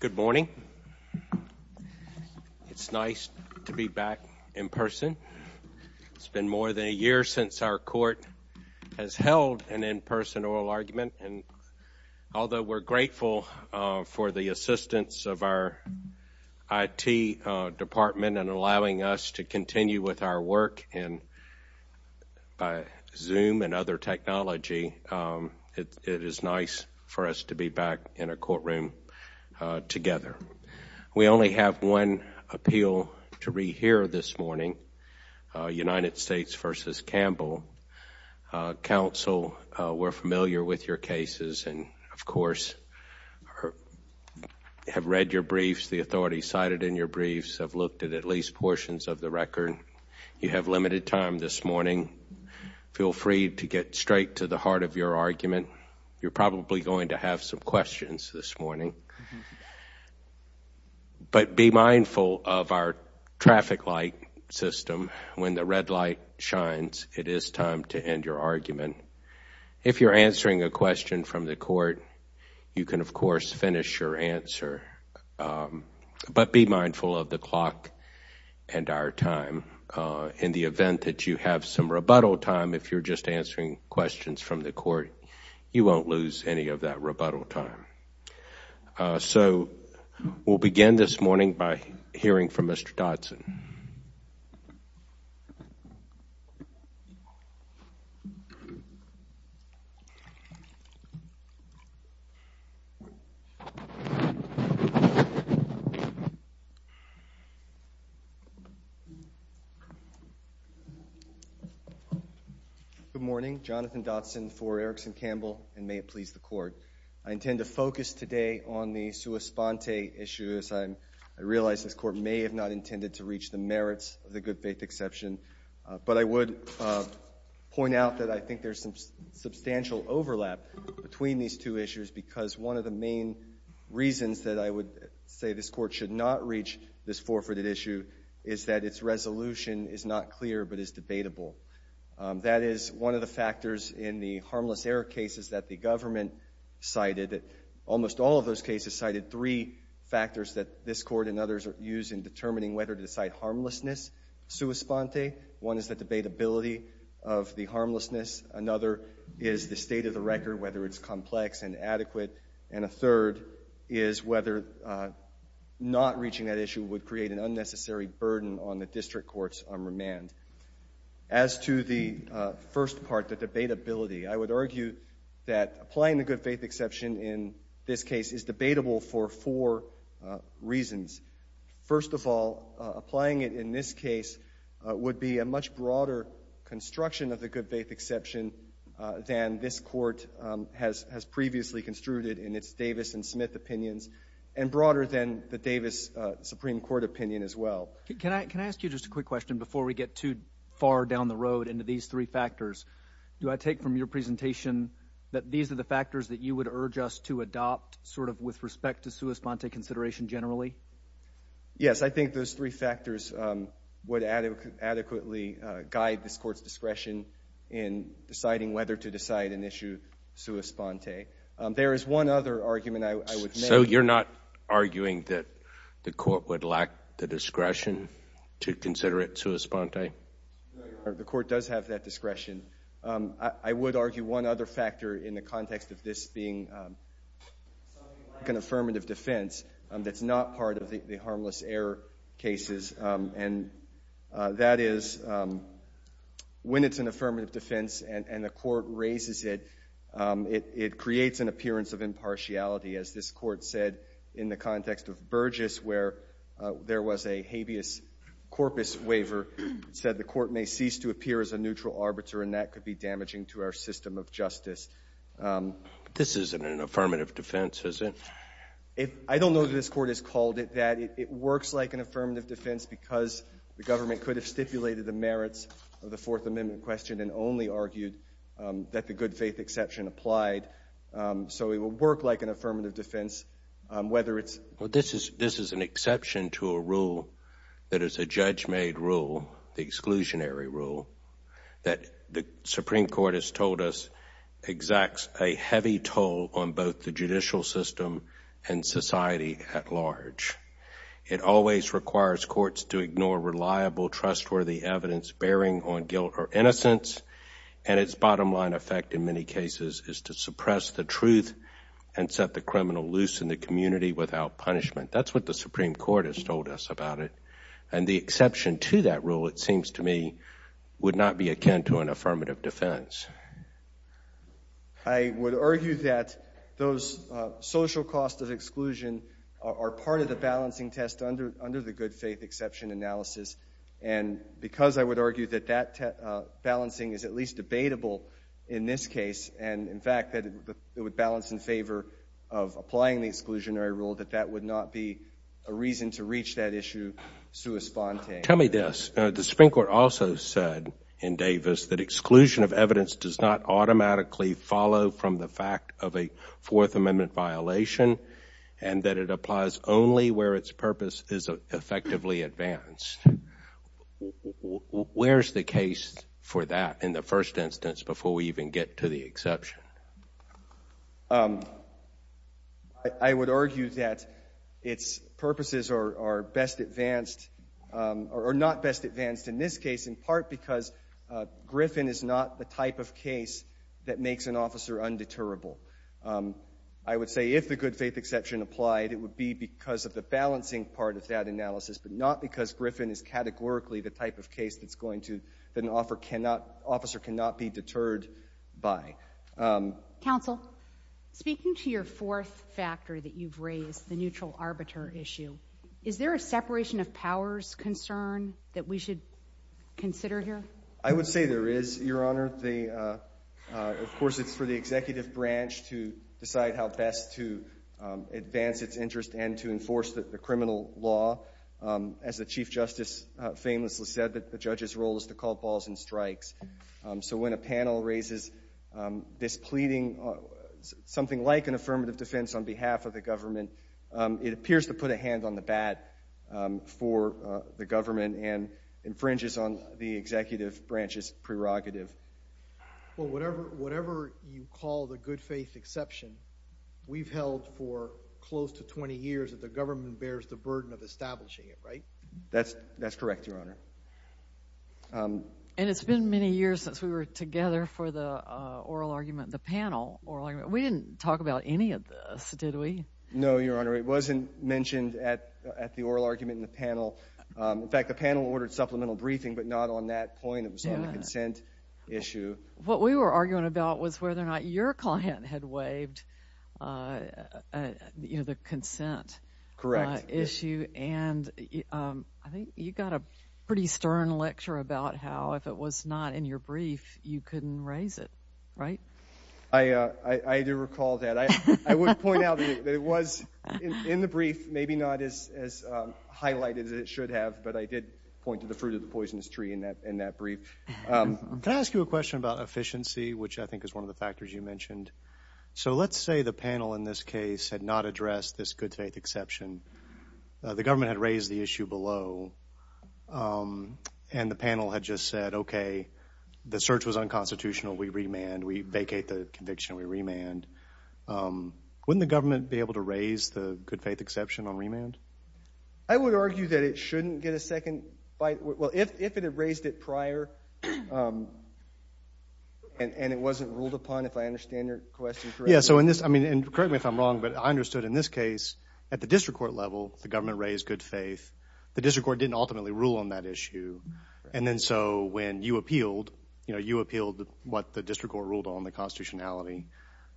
Good morning. It's nice to be back in person. It's been more than a year since our court has held an in-person oral argument, and although we're grateful for the assistance of our IT department in allowing us to continue with our work by Zoom and other technology, it is nice for us to be back in a courtroom together. We only have one appeal to rehear this morning, United States v. Campbell. Counsel, we're familiar with your cases and, of course, have read your briefs, the authorities cited in your briefs, have looked at at least portions of the record. You have limited time this morning. Feel free to get straight to the You're probably going to have some questions this morning, but be mindful of our traffic light system. When the red light shines, it is time to end your argument. If you're answering a question from the court, you can, of course, finish your answer, but be mindful of the clock and our time. In the event that you have some rebuttal time, if you're just answering questions from the court, you won't lose any of that rebuttal time. So we'll begin this Jonathan Dotson v. Erickson-Campbell, and may it please the Court. I intend to focus today on the sua sponte issues. I realize this Court may have not intended to reach the merits of the good faith exception, but I would point out that I think there's some substantial overlap between these two issues because one of the main reasons that I would say this Court should not reach this forfeited issue is that its resolution is not clear but is debatable. That is one of the factors in the harmless error cases that the government cited. Almost all of those cases cited three factors that this Court and others use in determining whether to cite harmlessness sua sponte. One is the debatability of the harmlessness. Another is the state of the record, whether it's complex and adequate. And a third is whether not reaching that issue would create an unnecessary burden on the district court's interim remand. As to the first part, the debatability, I would argue that applying the good faith exception in this case is debatable for four reasons. First of all, applying it in this case would be a much broader construction of the good faith exception than this Court has previously construed it in its Davis and Smith opinions, and broader than the Davis Supreme Court opinion as well. Can I ask you just a quick question before we get too far down the road into these three factors? Do I take from your presentation that these are the factors that you would urge us to adopt sort of with respect to sua sponte consideration generally? Yes, I think those three factors would adequately guide this Court's discretion in deciding whether to decide an issue sua sponte. There is one other argument I would make. So you're not arguing that the Court would lack the discretion to consider it sua sponte? No, Your Honor, the Court does have that discretion. I would argue one other factor in the context of this being something like an affirmative defense that's not part of the harmless error cases, and that is when it's an affirmative defense and the Court raises it, it creates an appearance of impartiality. As this Court said in the context of Burgess, where there was a habeas corpus waiver, it said the Court may cease to appear as a neutral arbiter and that could be damaging to our system of justice. This isn't an affirmative defense, is it? I don't know that this Court has called it that. It works like an affirmative defense because the government could have stipulated the merits of the Fourth Amendment question and only argued that the good faith exception applied. So it would work like an affirmative defense whether it's— This is an exception to a rule that is a judge-made rule, the exclusionary rule, that the Supreme Court has told us exacts a heavy toll on both the judicial system and society at large. It always requires courts to ignore reliable, trustworthy evidence bearing on guilt or innocence and its bottom line effect in many cases is to suppress the truth and set the criminal loose in the community without punishment. That's what the Supreme Court has told us about it. And the exception to that rule, it seems to me, would not be akin to an affirmative defense. I would argue that those social costs of exclusion are part of the balancing test under the good faith exception analysis. And because I would argue that that balancing is at least debatable in this case and, in fact, that it would balance in favor of applying the exclusionary rule, that that would not be a reason to reach that issue sui sponte. Tell me this. The Supreme Court also said in Davis that exclusion of evidence does not automatically follow from the fact of a Fourth Amendment violation and that it applies only where its purpose is effectively advanced. Where's the case for that in the first instance before we even get to the exception? I would argue that its purposes are best advanced or not best advanced in this case in part because Griffin is not the type of case that makes an officer undeterrable. I would say if the good faith exception applied, it would be because of the balancing part of that analysis but not because Griffin is categorically the type of case that's going to, that an officer cannot be deterred by. Counsel, speaking to your fourth factor that you've raised, the neutral arbiter issue, is there a separation of powers concern that we should consider here? I would say there is, Your Honor. Of course, it's for the executive branch to decide how best to advance its interest and to enforce the criminal law. As the Chief Justice famously said, the judge's role is to call balls and strikes. So when a panel raises this pleading, something like an affirmative defense on behalf of the government, it appears to put a hand on the bat for the government and infringes on the executive branch's prerogative. Well, whatever you call the good faith exception, we've held for close to 20 years that the government bears the burden of establishing it, right? That's correct, Your Honor. And it's been many years since we were together for the oral argument, the panel oral argument. We didn't talk about any of this, did we? No, Your Honor. It wasn't mentioned at the oral argument in the panel. In fact, the panel ordered supplemental briefing but not on that point. It was on the consent issue. What we were arguing about was whether or not your client had waived the consent issue and I think you got a pretty stern lecture about how if it was not in your brief, you couldn't raise it, right? I do recall that. I would point out that it was in the brief, maybe not as highlighted as it should have, but I did point to the fruit of the poisonous tree in that brief. Can I ask you a question about efficiency, which I think is one of the factors you mentioned? So let's say the panel in this case had not addressed this good faith exception. The government had raised the issue below and the panel had just said, okay, the search was unconstitutional, we remand, we vacate the conviction, we remand. Wouldn't the government be able to raise the good faith exception on remand? I would argue that it shouldn't get a second bite. Well, if it had raised it prior and it wasn't ruled upon, if I understand your question correctly. Yeah, so in this, correct me if I'm wrong, but I understood in this case, at the district court level, the government raised good faith. The district court didn't ultimately rule on that issue and then so when you appealed, you appealed what the district court ruled on the constitutionality.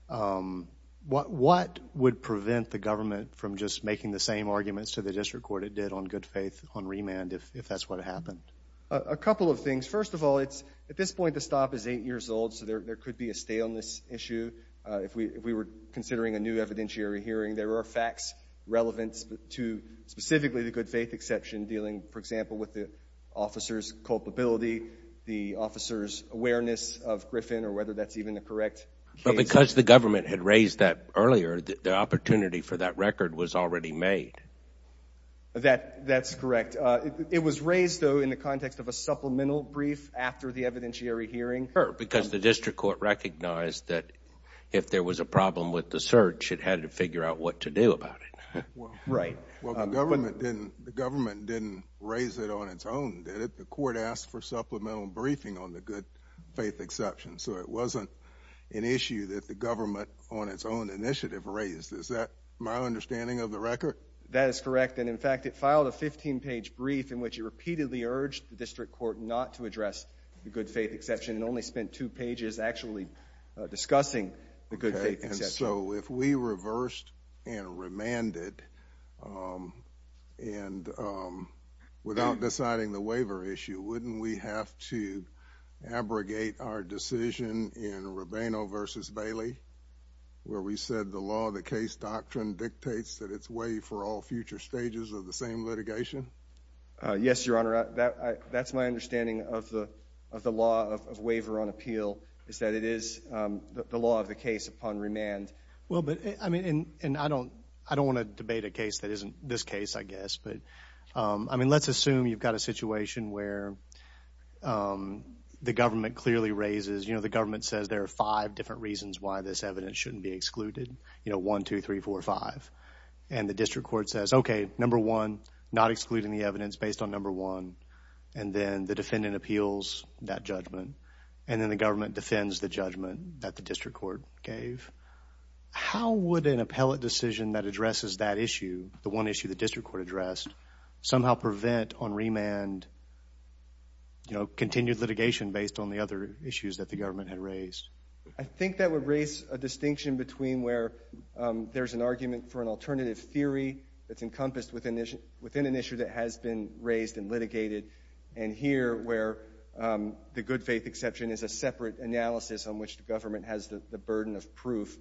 What would prevent the government from just making the same arguments to the district court it did on good faith on remand if that's what happened? A couple of things. First of all, it's at this point, the stop is eight years old, so there could be a stay on this issue. If we were considering a new evidentiary hearing, there are facts relevant to specifically the good faith exception dealing, for example, with the officer's culpability, the officer's awareness of Griffin or whether that's even the correct case. But because the government had raised that earlier, the opportunity for that record was already made. That's correct. It was raised, though, in the context of a supplemental brief after the evidentiary hearing. Because the district court recognized that if there was a problem with the search, it had to figure out what to do about it. Right. Well, the government didn't raise it on its own, did it? The court asked for supplemental briefing on the good faith exception, so it wasn't an issue that the government on its own initiative raised. Is that my understanding of the record? That is correct. And in fact, it filed a 15-page brief in which it repeatedly urged the district court not to address the good faith exception and only spent two pages actually discussing the good faith exception. Okay. And so if we reversed and remanded, and without deciding the waiver issue, wouldn't we have to abrogate our decision in Rubino v. Bailey, where we said the law of the case doctrine dictates that it's waived for all future stages of the same litigation? Yes, Your Honor. That's my understanding of the law of waiver on appeal, is that it is the law of the case upon remand. Well, but I mean, and I don't want to debate a case that isn't this case, I guess. But I mean, let's assume you've got a situation where the government clearly raises, you know, the government says there are five different reasons why this evidence shouldn't be excluded. You know, one, two, three, four, five. And the district court says, okay, number one, not excluding the evidence based on number one. And then the defendant appeals that judgment. And then the government defends the judgment that the district court gave. How would an appellate decision that addresses that issue, the one issue the district court addressed, somehow prevent on remand, you know, continued litigation based on the other issues that the government had raised? I think that would raise a distinction between where there's an argument for an alternative theory that's encompassed within an issue that has been raised and litigated, and here where the good faith exception is a separate analysis on which the government has the burden of proof.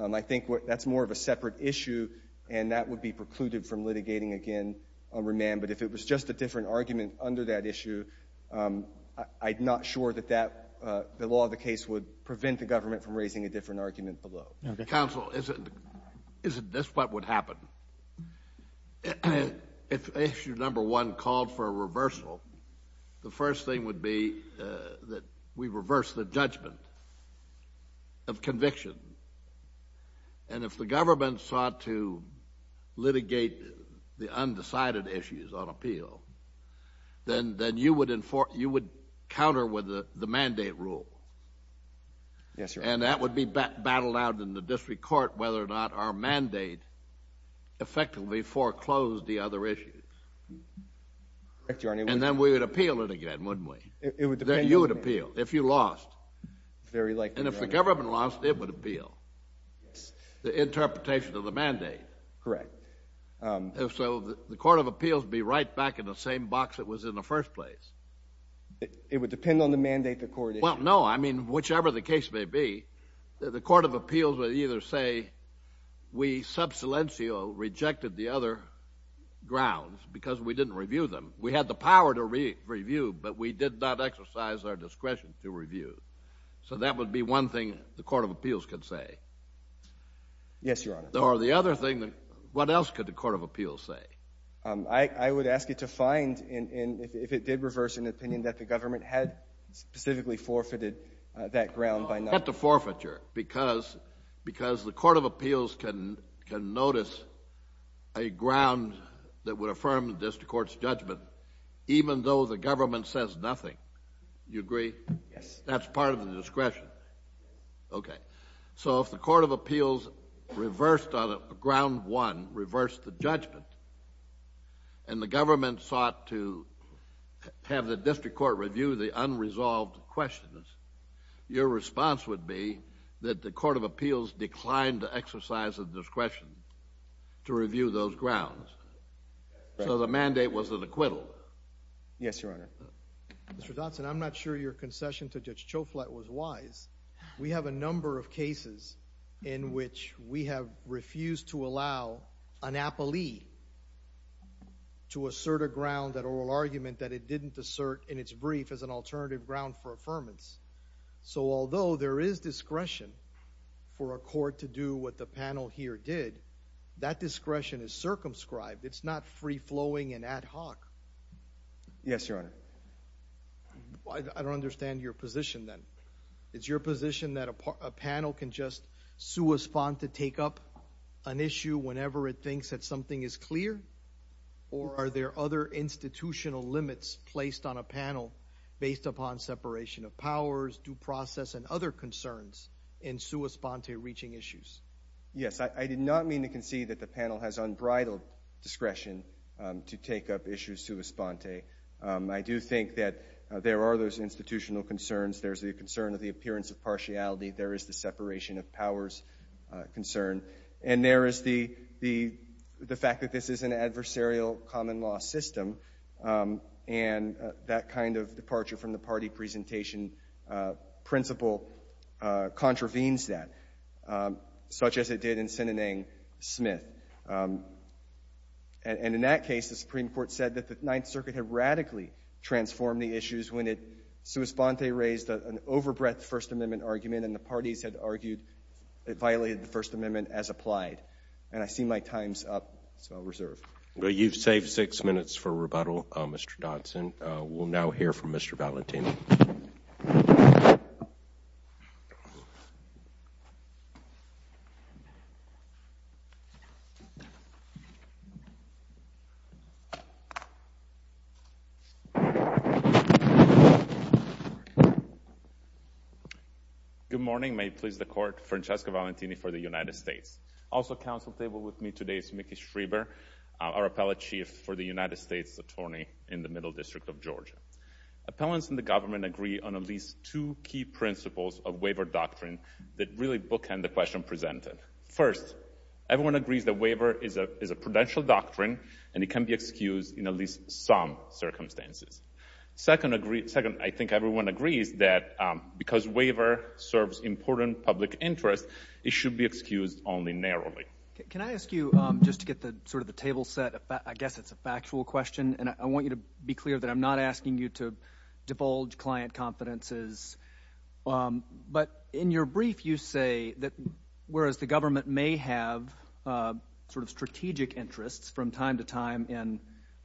I think that's more of a separate issue, and that would be precluded from litigating again on remand. But if it was just a different argument under that issue, I'm not sure that the law of the case would prevent the government from raising a different argument below. Counsel, isn't this what would happen? If issue number one called for a reversal, the first thing would be that we reverse the judgment of conviction. And if the government sought to litigate the undecided issues on appeal, then you would counter with the measure of mandate rule. And that would be battled out in the district court whether or not our mandate effectively foreclosed the other issues. And then we would appeal it again, wouldn't we? You would appeal if you lost. And if the government lost, it would appeal. The interpretation of the mandate. So the court of appeals would be right back in the same box it was in the first place. It would depend on the mandate the court issued. Well, no. I mean, whichever the case may be, the court of appeals would either say, we sub silencio rejected the other grounds because we didn't review them. We had the power to review, but we did not exercise our discretion to review. So that would be one thing the court of appeals could say. Yes, Your Honor. Or the other thing, what else could the court of appeals say? I would believe if it did reverse an opinion that the government had specifically forfeited that ground by not. Not the forfeiture. Because the court of appeals can notice a ground that would affirm the district court's judgment even though the government says nothing. You agree? Yes. That's part of the discretion. Okay. So if the court of appeals reversed on ground one, reversed the judgment, and the government sought to have the district court review the unresolved questions, your response would be that the court of appeals declined to exercise a discretion to review those grounds. So the mandate was an acquittal. Yes, Your Honor. Mr. Dotson, I'm not sure your concession to Judge Choflat was wise. We have a number of cases in which we have refused to allow an appellee to assert a ground that oral argument that it didn't assert in its brief as an alternative ground for affirmance. So although there is discretion for a court to do what the panel here did, that discretion is circumscribed. It's not free-flowing and ad hoc. Yes, Your Honor. I don't understand your position then. Is your position that a panel can just sua sponte take up an issue whenever it thinks that something is clear? Or are there other institutional limits placed on a panel based upon separation of powers, due process, and other concerns in sua sponte reaching issues? Yes. I did not mean to concede that the panel has unbridled discretion to take up issues sua sponte. I do think that there are those institutional concerns. There's the concern of the appearance of partiality. There is the separation of powers concern. And there is the fact that this is an adversarial common-law system, and that kind of departure from the party presentation principle contravenes that, such as it did in Sinanang Smith. And in that case, the Supreme Court said that the Ninth Circuit had radically transformed the issues when it sua sponte raised an over-breath First Amendment argument, and the parties had argued it violated the First Amendment as applied. And I see my time's up, so I'll reserve. Well, you've saved six minutes for rebuttal, Mr. Dodson. We'll now hear from you. Good morning. May it please the Court. Francesco Valentini for the United States. Also at the Council table with me today is Mickey Schreber, our Appellate Chief for the United States Attorney in the Middle District of Georgia. Appellants in the government agree on at least two key principles of waiver doctrine that really bookend the question presented. First, everyone agrees that waiver is a prudential doctrine, and it can be excused in at least some circumstances. Second, I think everyone agrees that because waiver serves important public interest, it should be excused only narrowly. Can I ask you, just to get sort of the table set, I guess it's a factual question, and I want you to be clear that I'm not asking you to divulge client confidences. But in your brief, you say that whereas the government may have sort of strategic interests from time to time in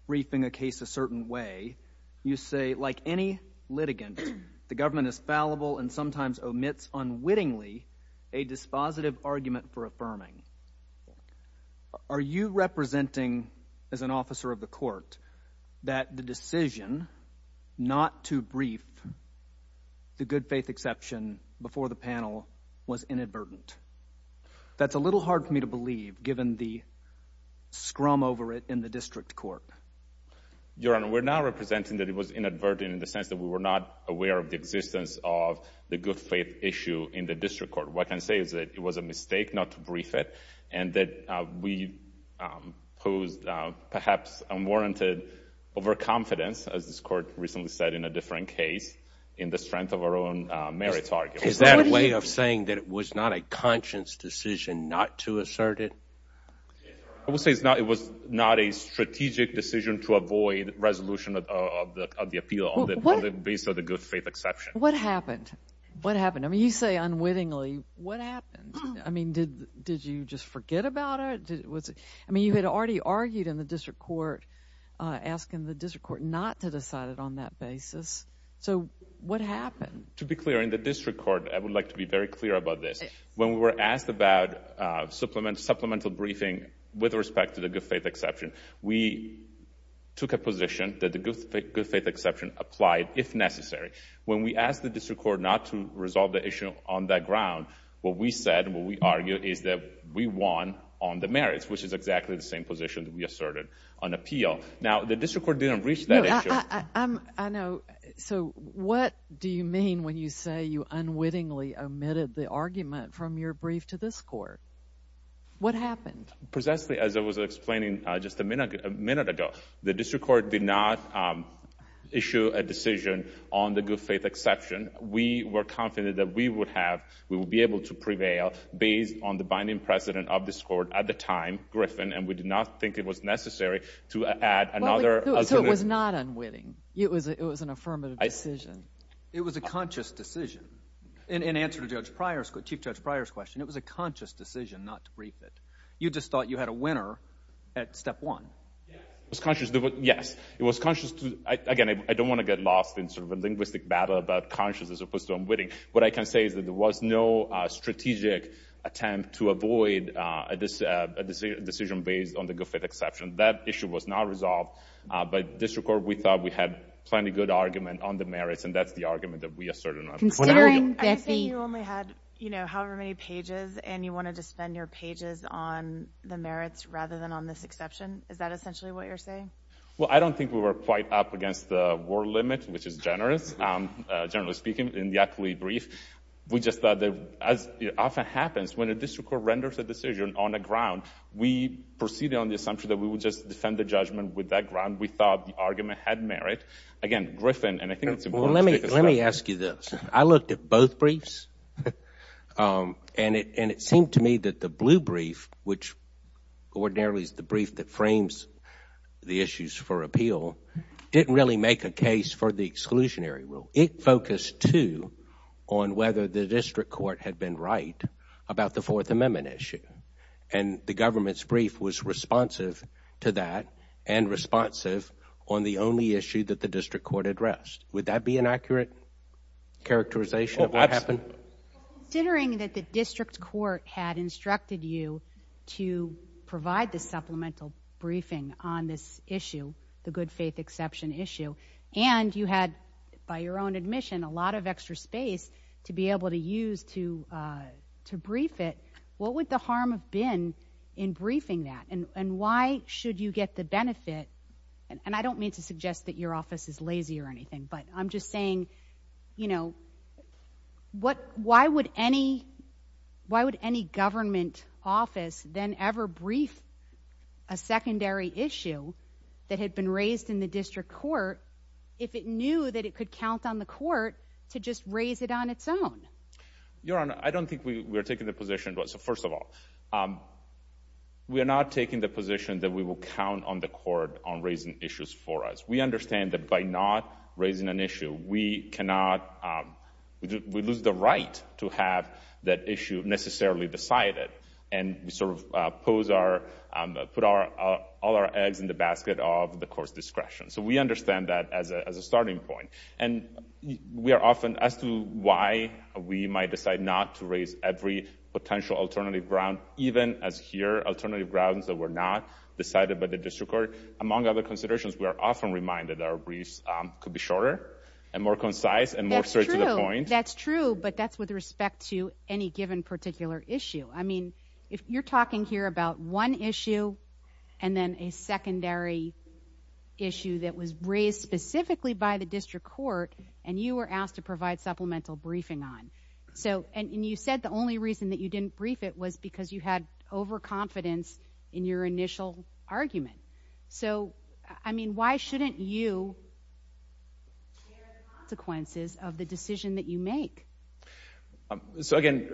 briefing a case a certain way, you say, like any litigant, the government is fallible and sometimes omits unwittingly a dispositive argument for affirming. Are you representing, as an officer of the Court, that the decision not to brief the good faith exception before the panel was inadvertent? That's a little hard for me to believe, given the scrum over it in the District Court. Your Honor, we're now representing that it was inadvertent in the sense that we were not aware of the existence of the good faith issue in the District Court. What I can say is that it was a mistake not to brief it, and that we posed perhaps unwarranted overconfidence, as this Court recently said in a different case, in the strength of our own merits argument. Is that a way of saying that it was not a conscience decision not to assert it? I would say it was not a strategic decision to avoid resolution of the appeal on the basis of the good faith exception. What happened? What happened? I mean, you say unwittingly. What happened? I mean, did you just forget about it? I mean, you had already argued in the District Court, asking the District Court not to decide it on that basis. So, what happened? To be clear, in the District Court, I would like to be very clear about this. When we were asked about supplemental briefing with respect to the good faith exception, we took a position that the good faith exception applied, if necessary. When we asked the District Court not to resolve the issue on that ground, what we said, what we argued, is that we won on the merits, which is exactly the same position that we asserted on appeal. Now, the District Court didn't reach that issue. I know. So, what do you mean when you say you unwittingly omitted the argument from your brief to this Court? What happened? Precisely, as I was explaining just a minute ago, the District Court did not issue a decision on the good faith exception. We were confident that we would have, we would be able to prevail based on the binding precedent of this Court at the time, Griffin, and we did not think it was necessary to add another. So, it was not unwitting. It was an affirmative decision. It was a conscious decision. In answer to Chief Judge Pryor's question, it was a conscious decision not to brief it. You just thought you had a winner at step one. Yes. It was conscious. Yes. It was conscious. Again, I don't want to get lost in sort of a linguistic battle about conscious as opposed to unwitting. What I can say is that there was no strategic attempt to avoid a decision based on the good faith exception. That issue was not resolved, but District Court, we thought we had plenty good argument on the merits, and that's the argument that we asserted. Considering that you only had, you know, however many pages, and you wanted to spend your pages on the merits rather than on this exception, is that essentially what you're saying? Well, I don't think we were quite up against the war limit, which is generous, generally speaking, in the actual brief. We just thought that, as often happens, when a District Court renders a decision on the ground, we proceed on the assumption that we would just defend the judgment with that ground. We thought the argument had merit. Again, Griffin, and I think it's important to take a step back. Well, let me ask you this. I looked at both briefs, and it seemed to me that the blue brief, which ordinarily is the brief that frames the issues for appeal, didn't really make a case for the exclusionary rule. It focused, too, on whether the District Court had been right about the Fourth Amendment issue, and the government's brief was responsive to that and responsive on the only issue that the District Court addressed. Would that be an accurate characterization of what happened? Well, considering that the District Court had instructed you to provide the supplemental briefing on this issue, the good faith exception issue, and you had, by your own admission, a lot of extra space to be able to use to brief it, what would the harm have been in briefing that? And why should you get the benefit, and I don't mean to suggest that your office is lazy or anything, but I'm just saying, you know, why would any government office then ever brief a secondary issue that had been raised in the District Court if it knew that it could count on the court to just raise it on its own? Your Honor, I don't think we're taking the position. So, first of all, we are not taking the position that we will count on the court on raising issues for us. We understand that by not raising an issue, we cannot... we lose the right to have that issue necessarily decided and sort of pose our... put all our eggs in the basket of the court's discretion. So, we understand that as a starting point. And we are often... as to why we might decide not to raise every potential alternative ground, even as here, alternative grounds that were not decided by the District Court, among other considerations, we are often reminded that our briefs could be shorter, and more concise, and more straight to the point. That's true, but that's with respect to any given particular issue. I mean, if you're talking here about one issue, and then a secondary issue that was raised specifically by the District Court, and you were asked to provide supplemental briefing on. So, and you said the only reason that you didn't brief it was because you had overconfidence in your initial argument. So, I mean, why shouldn't you share the consequences of the decision that you make? So, again,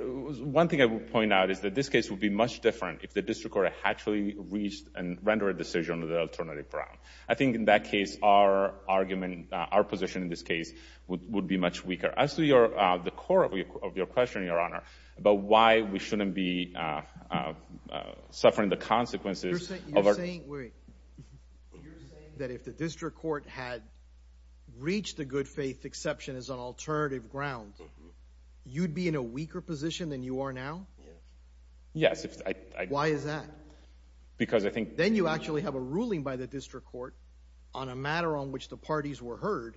one thing I would point out is that this case would be much different if the District Court actually reached and rendered a decision on the alternative ground. I think in that case, our argument... our position in this case would be much weaker. As to your... the core of your question, Your Honor, about why we shouldn't be suffering the consequences of our... You're saying, wait. You're saying that if the District Court had reached the good faith exception as an alternative ground, you'd be in a weaker position than you are now? Yes, I... Why is that? Because I think... Then you actually have a ruling by the District Court on a matter on which the parties were heard.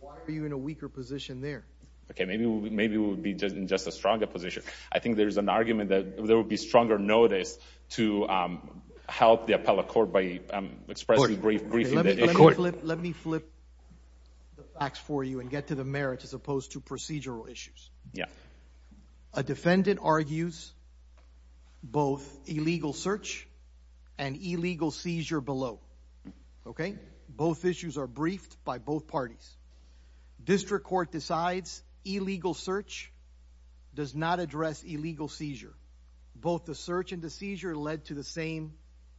Why are you in a weaker position there? Okay, maybe we'll be just in just a stronger position. I think there's an argument that there would be stronger notice to help the appellate court by expressing brief... Let me flip the facts for you and get to the merits as opposed to procedural issues. Yeah. A defendant argues both illegal search and illegal seizure below. Okay? Both issues are briefed by both parties. District Court decides illegal search does not address illegal seizure. Both the search and the seizure led to the same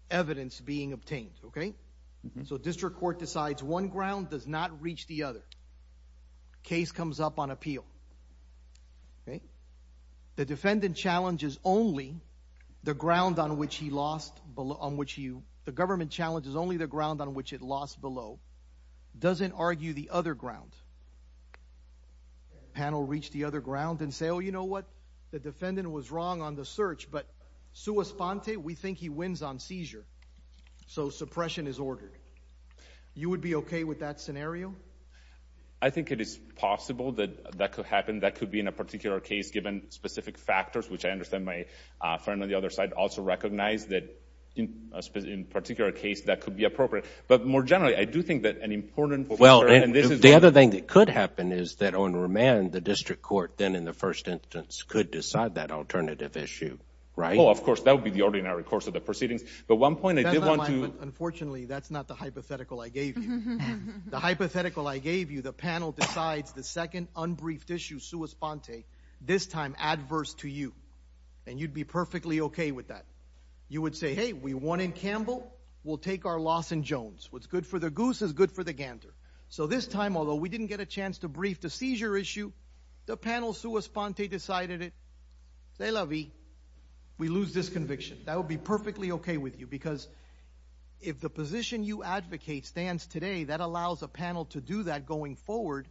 evidence being obtained. Okay? So District Court decides one ground does not reach the other. Case comes up on appeal. Okay? The defendant challenges only the ground on which he lost... on which he... The government challenges only the ground on which it lost below. Doesn't argue the other ground. Panel reach the other ground and say, oh, you know what? The defendant was wrong on the search, but sua sponte, we think he wins on seizure. So suppression is ordered. You would be okay with that scenario? I think it is possible that that could happen. That could be in a particular case given specific factors, which I understand my friend on the other side also recognized that in a particular case that could be appropriate. But more generally, I do think that an important... Well, the other thing that could happen is that on remand, the District Court then in the first instance could decide that alternative issue. Right? Oh, of course, that would be the ordinary course of the proceedings. But one point I did want to... Unfortunately, that's not the hypothetical I gave you. The hypothetical I gave you, the panel decides the second unbriefed issue sua sponte, this time adverse to you. And you'd be perfectly okay with that. You would say, hey, we won in Campbell. We'll take our loss in Jones. What's good for the goose is good for the gander. So this time, although we didn't get a chance to brief the seizure issue, the panel sua sponte decided it. C'est la vie. We lose this conviction. That would be perfectly okay with you because if the position you advocate stands today, that allows a panel to do that going forward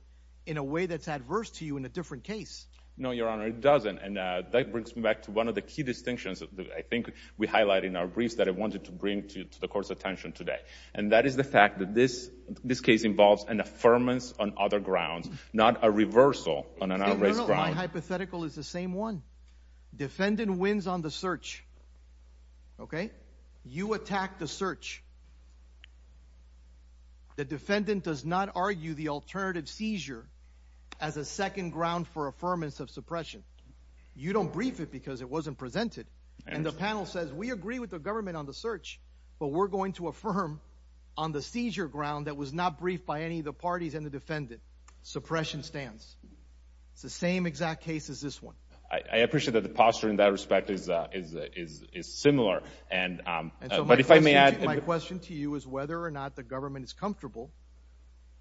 in a way that's adverse to you in a different case. No, Your Honor, it doesn't. And that brings me back to one of the key distinctions that I think we highlight in our briefs that I wanted to bring to the Court's attention today. And that is the fact that this case involves an affirmance on other grounds, not a reversal on an outrace crime. My hypothetical is the same one. Defendant wins on the search. Okay? You attack the search. The defendant does not argue the alternative seizure as a second ground for affirmance of suppression. You don't brief it because it wasn't presented. And the panel says, we agree with the government on the search, but we're going to affirm on the seizure ground that was not briefed by any of the parties and the defendant. Suppression stands. It's the same exact case as this one. I appreciate that the posture in that respect is similar. But if I may add— My question to you is whether or not the government is comfortable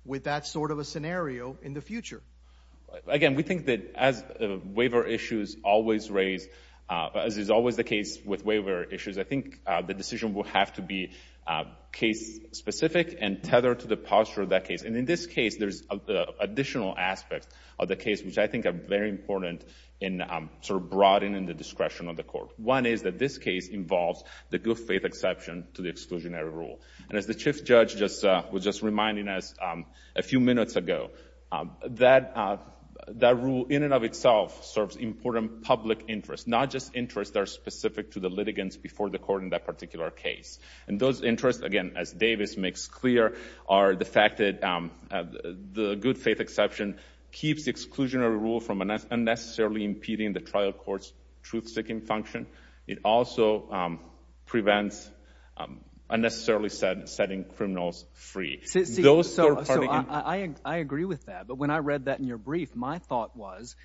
with that sort of a scenario in the future. Again, we think that as waiver issues always raise—as is always the case with waiver issues, I think the decision will have to be case-specific and tethered to the posture of that case. And in this case, there's additional aspects of the case which I think are very important in sort of broadening the discretion of the Court. One is that this case involves the good faith exception to the exclusionary rule. And as the Chief Judge was just reminding us a few minutes ago, that rule in and of itself serves important public interests, not just interests that are specific to the litigants before the court in that particular case. And those interests, again, as Davis makes clear, are the fact that the good faith exception keeps the exclusionary rule from unnecessarily impeding the trial court's truth-seeking function. It also prevents unnecessarily setting criminals free. So I agree with that. But when I read that in your brief, my thought was,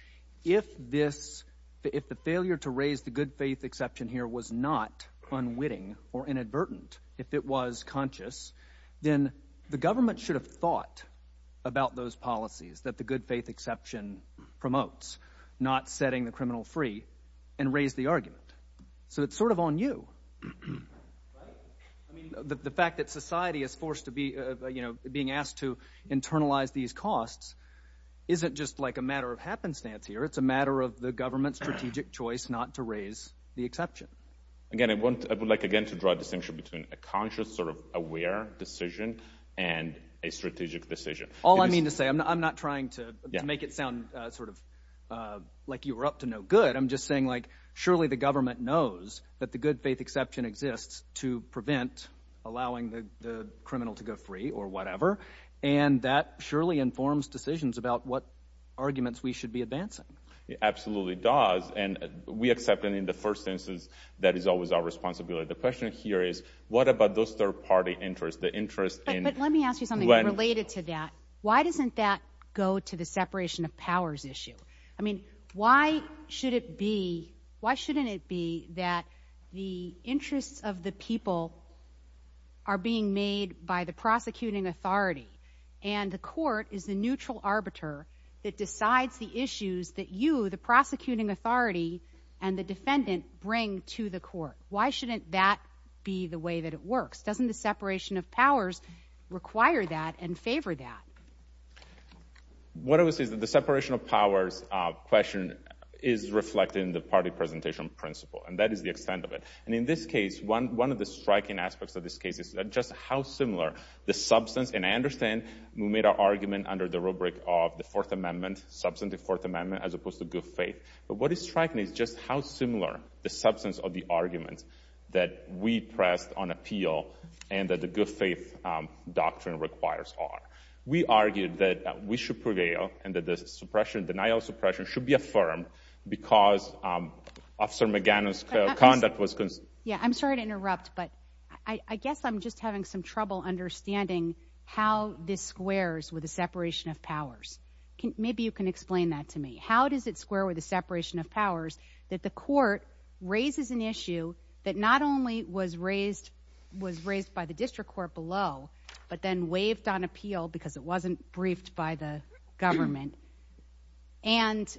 if this—if the failure to raise the good faith exception here was not unwitting or inadvertent, if it was conscious, then the government should have thought about those policies that the good faith exception promotes, not setting the criminal free, and raised the argument. So it's sort of on you. Right? I mean, the fact that society is forced to be—you know, being asked to internalize these costs isn't just like a matter of happenstance here. It's a matter of the government's strategic choice not to raise the exception. Again, I want—I would like, again, to draw a distinction between a conscious, sort of aware decision and a strategic decision. All I mean to say—I'm not trying to make it sound sort of like you were up to no good. I'm just saying, like, surely the government knows that the good faith exception exists to prevent allowing the criminal to go free or whatever. And that surely informs decisions about what arguments we should be advancing. It absolutely does. And we accept, and in the first instance, that is always our responsibility. The question here is, what about those third-party interests, the interest in— But let me ask you something related to that. Why doesn't that go to the separation of powers issue? I mean, why should it be—why shouldn't it be that the interests of the people are being made by the prosecuting authority and the court is the neutral arbiter that decides the issues that you, the prosecuting authority, and the defendant bring to the court? Why shouldn't that be the way that it works? Doesn't the separation of powers require that and favor that? What I would say is that the separation of powers question is reflected in the party presentation principle, and that is the extent of it. And in this case, one of the striking aspects of this case is just how similar the substance—and I understand we made our argument under the rubric of the Fourth Amendment, substantive Fourth Amendment, as opposed to good faith. But what is striking is just how similar the substance of the arguments that we pressed on appeal and that the good faith doctrine requires are. We argued that we should prevail and that the suppression—denial of suppression—should be affirmed because Officer McGannon's conduct was— Yeah, I'm sorry to interrupt, but I guess I'm just having some trouble understanding how this squares with the separation of powers. Maybe you can explain that to me. How does it square with the separation of powers that the court raises an issue that not only was raised—was raised by the district court below, but then waived on appeal because it wasn't briefed by the government and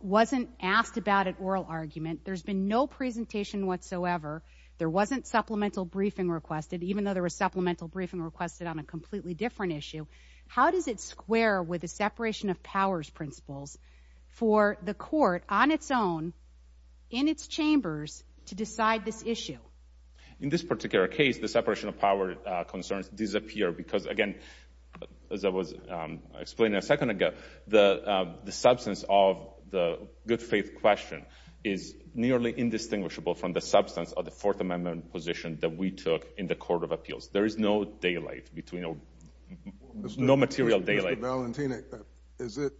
wasn't asked about at oral argument? There's been no presentation whatsoever. There wasn't supplemental briefing requested, even though there was supplemental briefing requested on a completely different issue. How does it square with the separation of powers principles for the court on its own, in its chambers, to decide this issue? In this particular case, the separation of power concerns disappear because, again, as I was explaining a second ago, the substance of the good faith question is nearly indistinguishable from the substance of the Fourth Amendment position that we took in the Court of Appeals. There is no daylight between—no material daylight. Mr. Valentino, is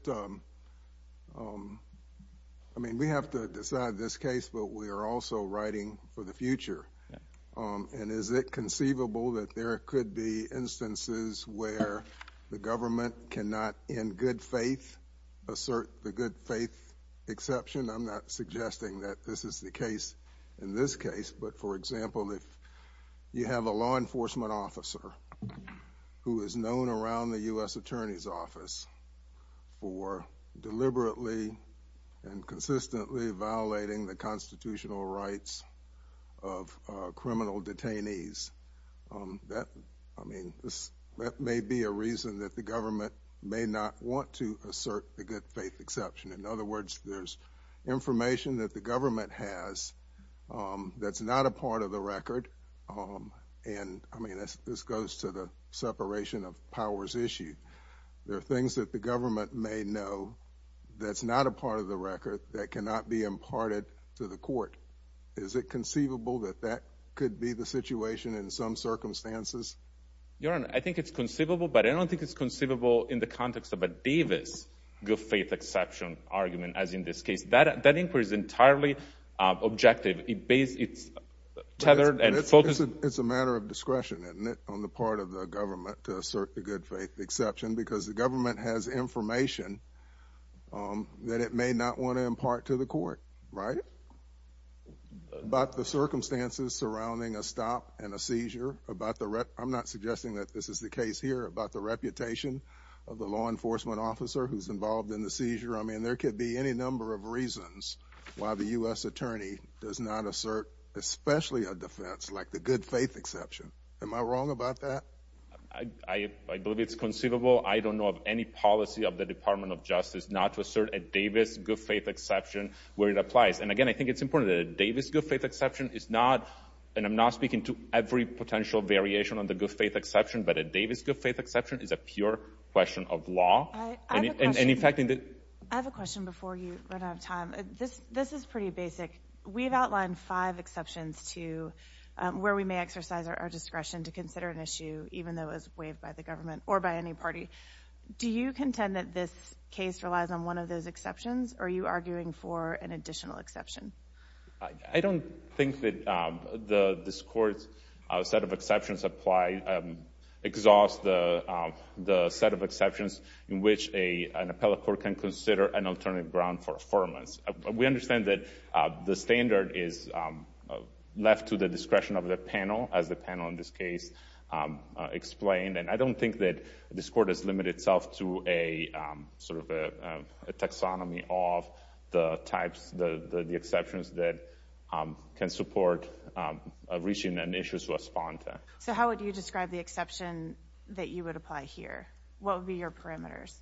it—I mean, we have to decide this case, but we are also writing for the future, and is it conceivable that there could be instances where the government cannot, in good faith, assert the good faith exception? I'm not suggesting that this is the case in this case, but, for example, if you have a law enforcement officer who is known around the U.S. Attorney's Office for deliberately and consistently violating the constitutional rights of criminal detainees, that—I mean, that may be a reason that the government may not want to assert the good faith exception. In other words, there's information that the government has that's not a part of the record, and, I mean, this goes to the separation of powers issue. There are things that the government may know that's not a part of the record that cannot be imparted to the court. Is it conceivable that that could be the situation in some circumstances? Your Honor, I think it's conceivable, but I don't think it's conceivable in the context of a Davis good faith exception argument, as in this case. That inquiry is entirely objective. It's tethered and focused— It's a matter of discretion, isn't it, on the part of the government to assert the good faith exception, because the government has information that it may not want to impart to the court, right, about the circumstances surrounding a stop and a seizure, about the—I'm not suggesting that this is the case here—about the reputation of the law enforcement officer who's involved in the seizure. I mean, there could be any number of reasons why the U.S. attorney does not assert especially a defense like the good faith exception. Am I wrong about that? I believe it's conceivable. I don't know of any policy of the Department of Justice not to assert a Davis good faith exception where it applies. And again, I think it's important that a Davis good faith exception is not—and I'm not speaking to every potential variation on the good faith exception, but a Davis good faith exception is a pure question of law. And in fact— I have a question before you run out of time. This is pretty basic. We've outlined five exceptions to where we may exercise our discretion to consider an issue, even though it's waived by the government or by any party. Do you contend that this case relies on one of those exceptions, or are you arguing for an additional exception? I don't think that this Court's set of exceptions apply—exhaust the set of exceptions in which an appellate court can consider an alternative ground for affirmance. We understand that the standard is left to the discretion of the panel, as the panel in this case explained, and I don't think that this Court has limited itself to a sort of a taxonomy of the types, the exceptions that can support reaching an issue to a spontan. So how would you describe the exception that you would apply here? What would be your parameters?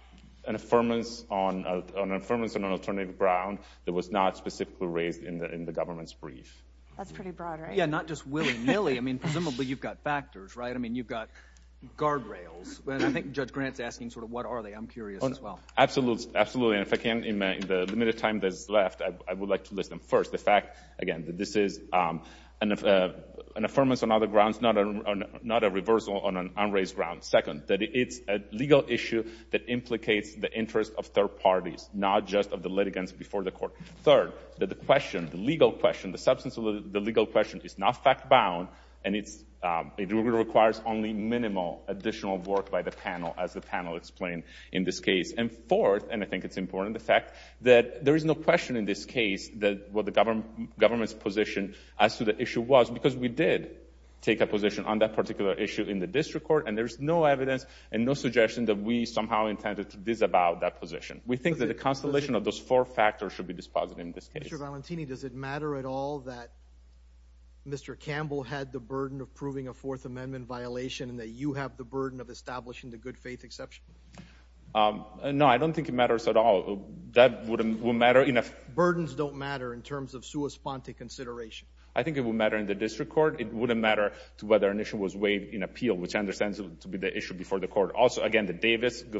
An affirmance on an alternative ground that was not specifically raised in the government's brief. That's pretty broad, right? Yeah, not just willy-nilly. I mean, guardrails. And I think Judge Grant's asking sort of what are they. I'm curious as well. Absolutely. And if I can, in the limited time that's left, I would like to list them. First, the fact, again, that this is an affirmance on other grounds, not a reversal on an unraised ground. Second, that it's a legal issue that implicates the interest of third parties, not just of the litigants before the Court. Third, that the question, the legal question, the substance of the legal question is not fact-bound, and it requires only minimal additional work by the panel, as the panel explained in this case. And fourth, and I think it's important, the fact that there is no question in this case that what the government's position as to the issue was, because we did take a position on that particular issue in the District Court, and there's no evidence and no suggestion that we somehow intended to disavow that position. We think that the constellation of those four factors should be disposed in this case. Mr. Valentini, does it matter at all that Mr. Campbell had the burden of proving a Fourth Amendment violation and that you have the burden of establishing the good-faith exception? No, I don't think it matters at all. That wouldn't matter in a— Burdens don't matter in terms of sua sponte consideration? I think it would matter in the District Court. It wouldn't matter to whether an issue was waived in appeal, which I understand to be the issue before the Court. Also, again, the Davis good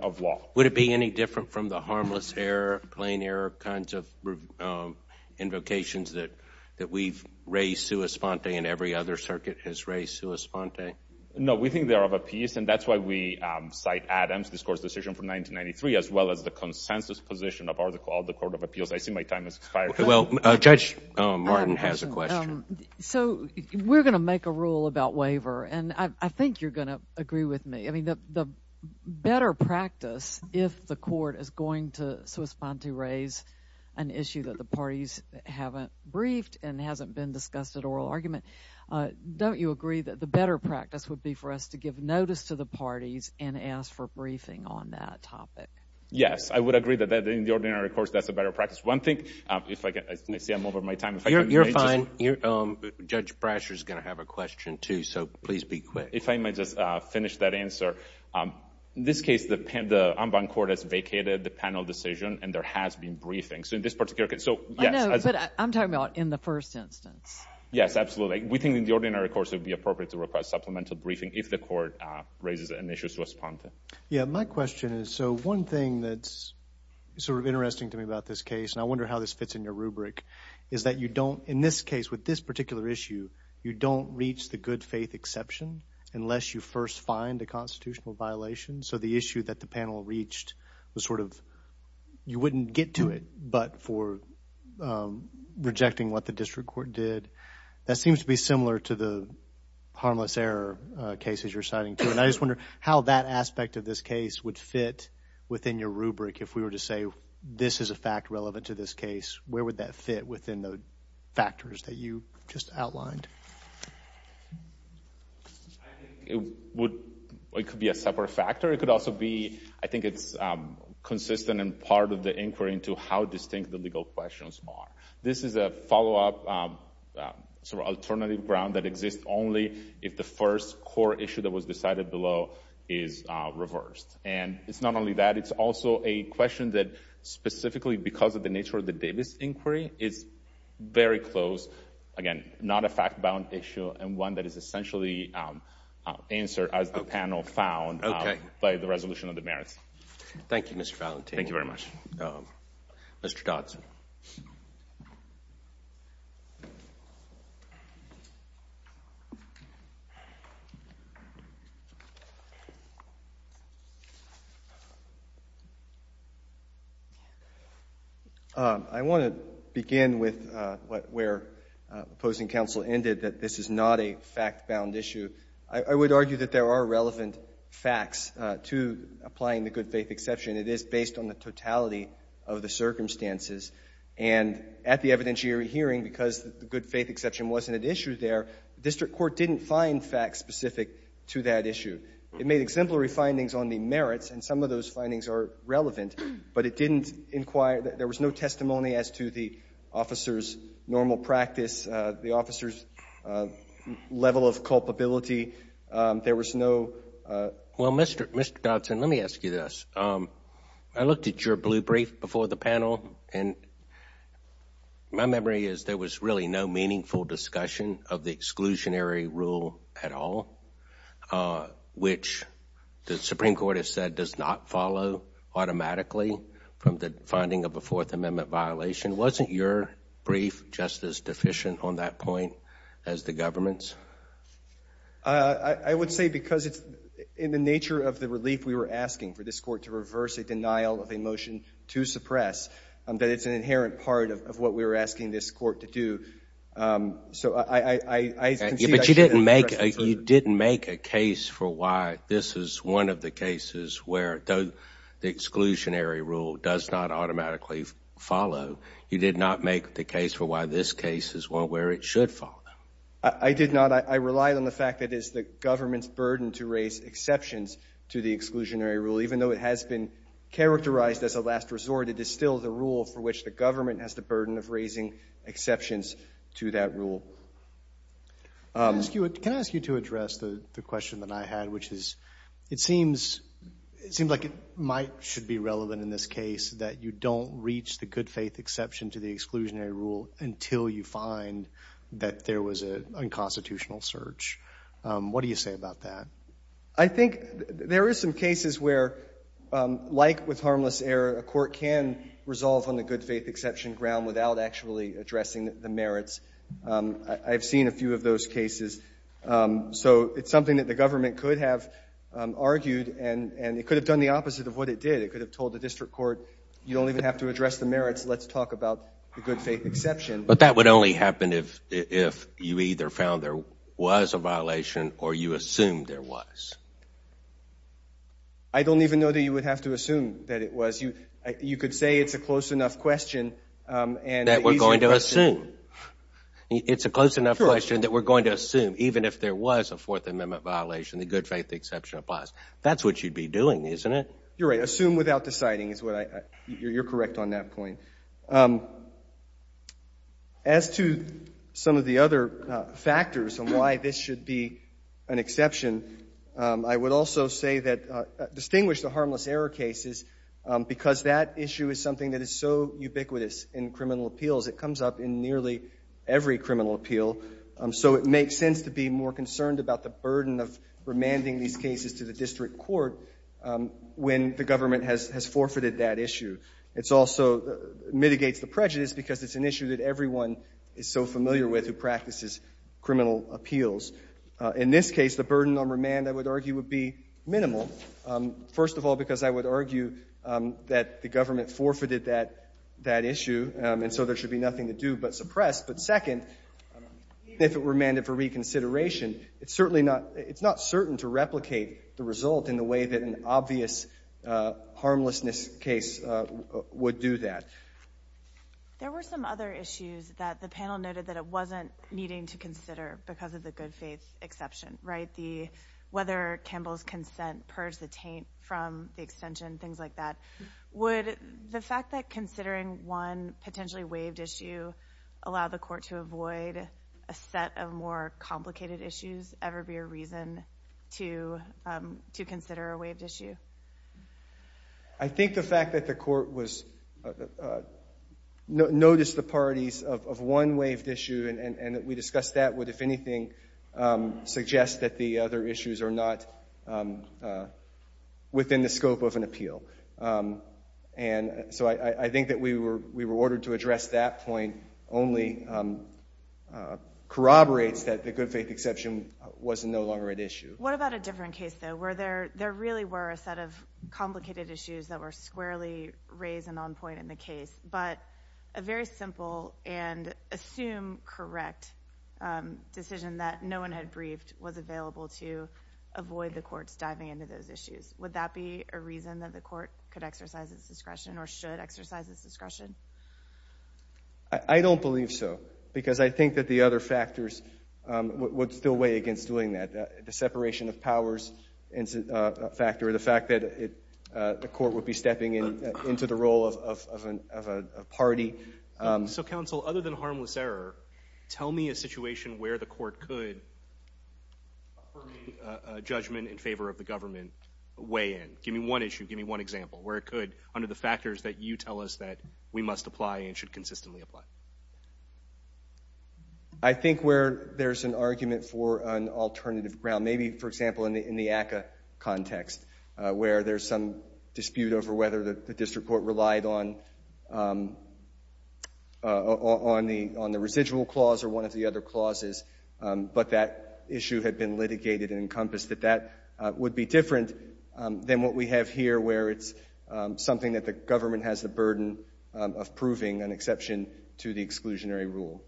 of law. Would it be any different from the harmless error, plain error kinds of invocations that we've raised sua sponte and every other circuit has raised sua sponte? No, we think they are of a piece, and that's why we cite Adam's discourse decision from 1993, as well as the consensus position of all the Court of Appeals. I see my time has expired. Well, Judge Martin has a question. So we're going to make a rule about waiver, and I think you're going to agree with me. I mean, the better practice, if the Court is going to sua sponte raise an issue that the parties haven't briefed and hasn't been discussed at oral argument, don't you agree that the better practice would be for us to give notice to the parties and ask for briefing on that topic? Yes, I would agree that in the ordinary course, that's a better practice. One thing, if I get—I see I'm over my time. You're fine. Judge Brasher is going to have a question, too, so please be quick. If I may just finish that answer. In this case, the en banc court has vacated the panel decision, and there has been briefing. So in this particular case— I know, but I'm talking about in the first instance. Yes, absolutely. We think in the ordinary course it would be appropriate to request supplemental briefing if the court raises an issue sua sponte. Yeah, my question is, so one thing that's sort of interesting to me about this case, and I wonder how this fits in your rubric, is that you don't—in this case, with this particular issue, you don't reach the good faith exception unless you first find a constitutional violation. So the issue that the panel reached was sort of, you wouldn't get to it, but for rejecting what the district court did. That seems to be similar to the harmless error cases you're citing, too. And I just wonder how that aspect of this case would fit within your rubric if we were to say, this is a fact relevant to this case. Where would that fit within the factors that you just outlined? I think it would—it could be a separate factor. It could also be—I think it's consistent and part of the inquiry into how distinct the legal questions are. This is a follow-up sort of alternative ground that exists only if the first core issue that was decided below is reversed. And it's not only that. It's also a question that specifically because of the nature of the Davis inquiry, it's very close. Again, not a fact-bound issue and one that is essentially answered, as the panel found, by the resolution of the merits. Thank you, Mr. Valentino. Thank you very much. Mr. Dodson. I want to begin with where opposing counsel ended, that this is not a fact-bound issue. I would argue that there are relevant facts to applying the good faith exception. It is based on the totality of the circumstances. And at the evidentiary hearing, because the good faith exception wasn't at issue there, district court didn't find facts specific to that issue. It made exemplary findings on the merits, and some of those there was no testimony as to the officer's normal practice, the officer's level of culpability. There was no... Well, Mr. Dodson, let me ask you this. I looked at your blue brief before the panel, and my memory is there was really no meaningful discussion of the exclusionary rule at all, which the Supreme Court has said does not follow automatically from the finding of a Fourth Amendment violation. Wasn't your brief just as deficient on that point as the government's? I would say because in the nature of the relief we were asking for this court to reverse a denial of a motion to suppress, that it's an inherent part of what we were asking this court to do. But you didn't make a case for why this is one of the the exclusionary rule does not automatically follow. You did not make the case for why this case is one where it should follow. I did not. I relied on the fact that it's the government's burden to raise exceptions to the exclusionary rule. Even though it has been characterized as a last resort, it is still the rule for which the government has the burden of raising exceptions to that rule. Can I ask you to address the question that I had, which is it seems like it might should be relevant in this case that you don't reach the good faith exception to the exclusionary rule until you find that there was an unconstitutional search. What do you say about that? I think there are some cases where, like with harmless error, a court can resolve on the good faith exception ground without actually addressing the merits. I've seen a few of those cases. So it's something that the government could have argued and it could have done the opposite of what it did. It could have told the district court, you don't even have to address the merits. Let's talk about the good faith exception. But that would only happen if you either found there was a violation or you assumed there was. I don't even know that you would have to assume that it was. You could say it's a close enough question. That we're going to assume. It's a close enough question that we're going to assume, even if there was a Fourth Amendment violation, the good faith exception applies. That's what you'd be doing, isn't it? You're right. Assume without deciding is what I, you're correct on that point. As to some of the other factors and why this should be an exception, I would also say distinguish the harmless error cases because that issue is something that is so ubiquitous in criminal appeals. It comes up in nearly every criminal appeal. So it makes sense to be more concerned about the burden of remanding these cases to the district court when the government has forfeited that issue. It also mitigates the prejudice because it's an issue that everyone is so familiar with who practices criminal appeals. In this case, the burden on remand, I would argue, would be minimal. First of all, because I would argue that the government forfeited that issue and so there should be nothing to do but suppress. But second, if it were mandated for reconsideration, it's certainly not, it's not certain to replicate the result in the way that an obvious harmlessness case would do that. There were some other issues that the panel noted that it wasn't needing to consider because of the faith exception, right? Whether Campbell's consent purged the taint from the extension, things like that. Would the fact that considering one potentially waived issue allow the court to avoid a set of more complicated issues ever be a reason to consider a waived issue? I think the fact that the court noticed the parties of one waived issue and that we discussed that would, if anything, suggest that the other issues are not within the scope of an appeal. And so I think that we were ordered to address that point only corroborates that the good faith exception was no longer an issue. What about a different case though, where there really were a set of complicated issues that were squarely raised and on point in the case, but a very simple and assumed correct decision that no one had briefed was available to avoid the courts diving into those issues. Would that be a reason that the court could exercise its discretion or should exercise its discretion? I don't believe so because I think that the other factors would still weigh against doing that. The separation of powers factor, the fact that the court would be stepping into the role of a party. So counsel, other than harmless error, tell me a situation where the court could offer me a judgment in favor of the government weigh in. Give me one issue. Give me one example where it could under the factors that you tell us that we must apply and should consistently apply. I think where there's an argument for an alternative ground, maybe for the ACCA context, where there's some dispute over whether the district court relied on the residual clause or one of the other clauses, but that issue had been litigated and encompassed, that that would be different than what we have here where it's something that the government has the burden of proving an exception to the exclusionary rule.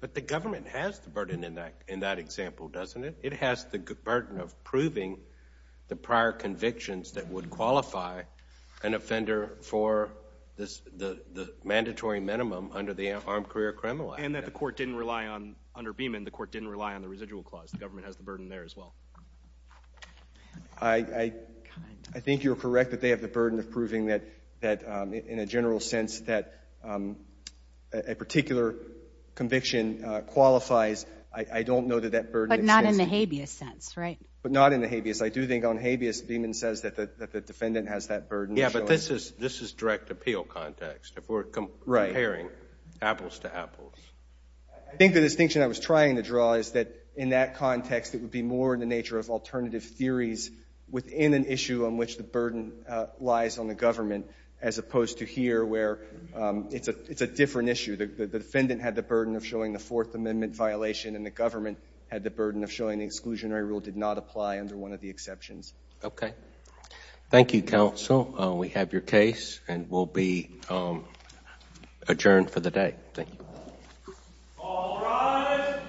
But the government has the burden of proving the prior convictions that would qualify an offender for the mandatory minimum under the Armed Career Criminal Act. And that the court didn't rely on, under Beeman, the court didn't rely on the residual clause. The government has the burden there as well. I think you're correct that they have the burden of proving that in a general sense that a particular conviction qualifies. I don't know that that burden exists. But not in the habeas sense, right? But not in the habeas. I do think on habeas, Beeman says that the defendant has that burden. Yeah, but this is direct appeal context. If we're comparing apples to apples. I think the distinction I was trying to draw is that in that context, it would be more in the nature of alternative theories within an issue on which the burden lies on the government as opposed to here where it's a different issue. The defendant had the burden of showing the Fourth Amendment violation and the government had the burden of showing the exclusionary rule did not apply under one of the exceptions. Okay. Thank you, counsel. We have your case and we'll be adjourned for the day. Thank you. All rise.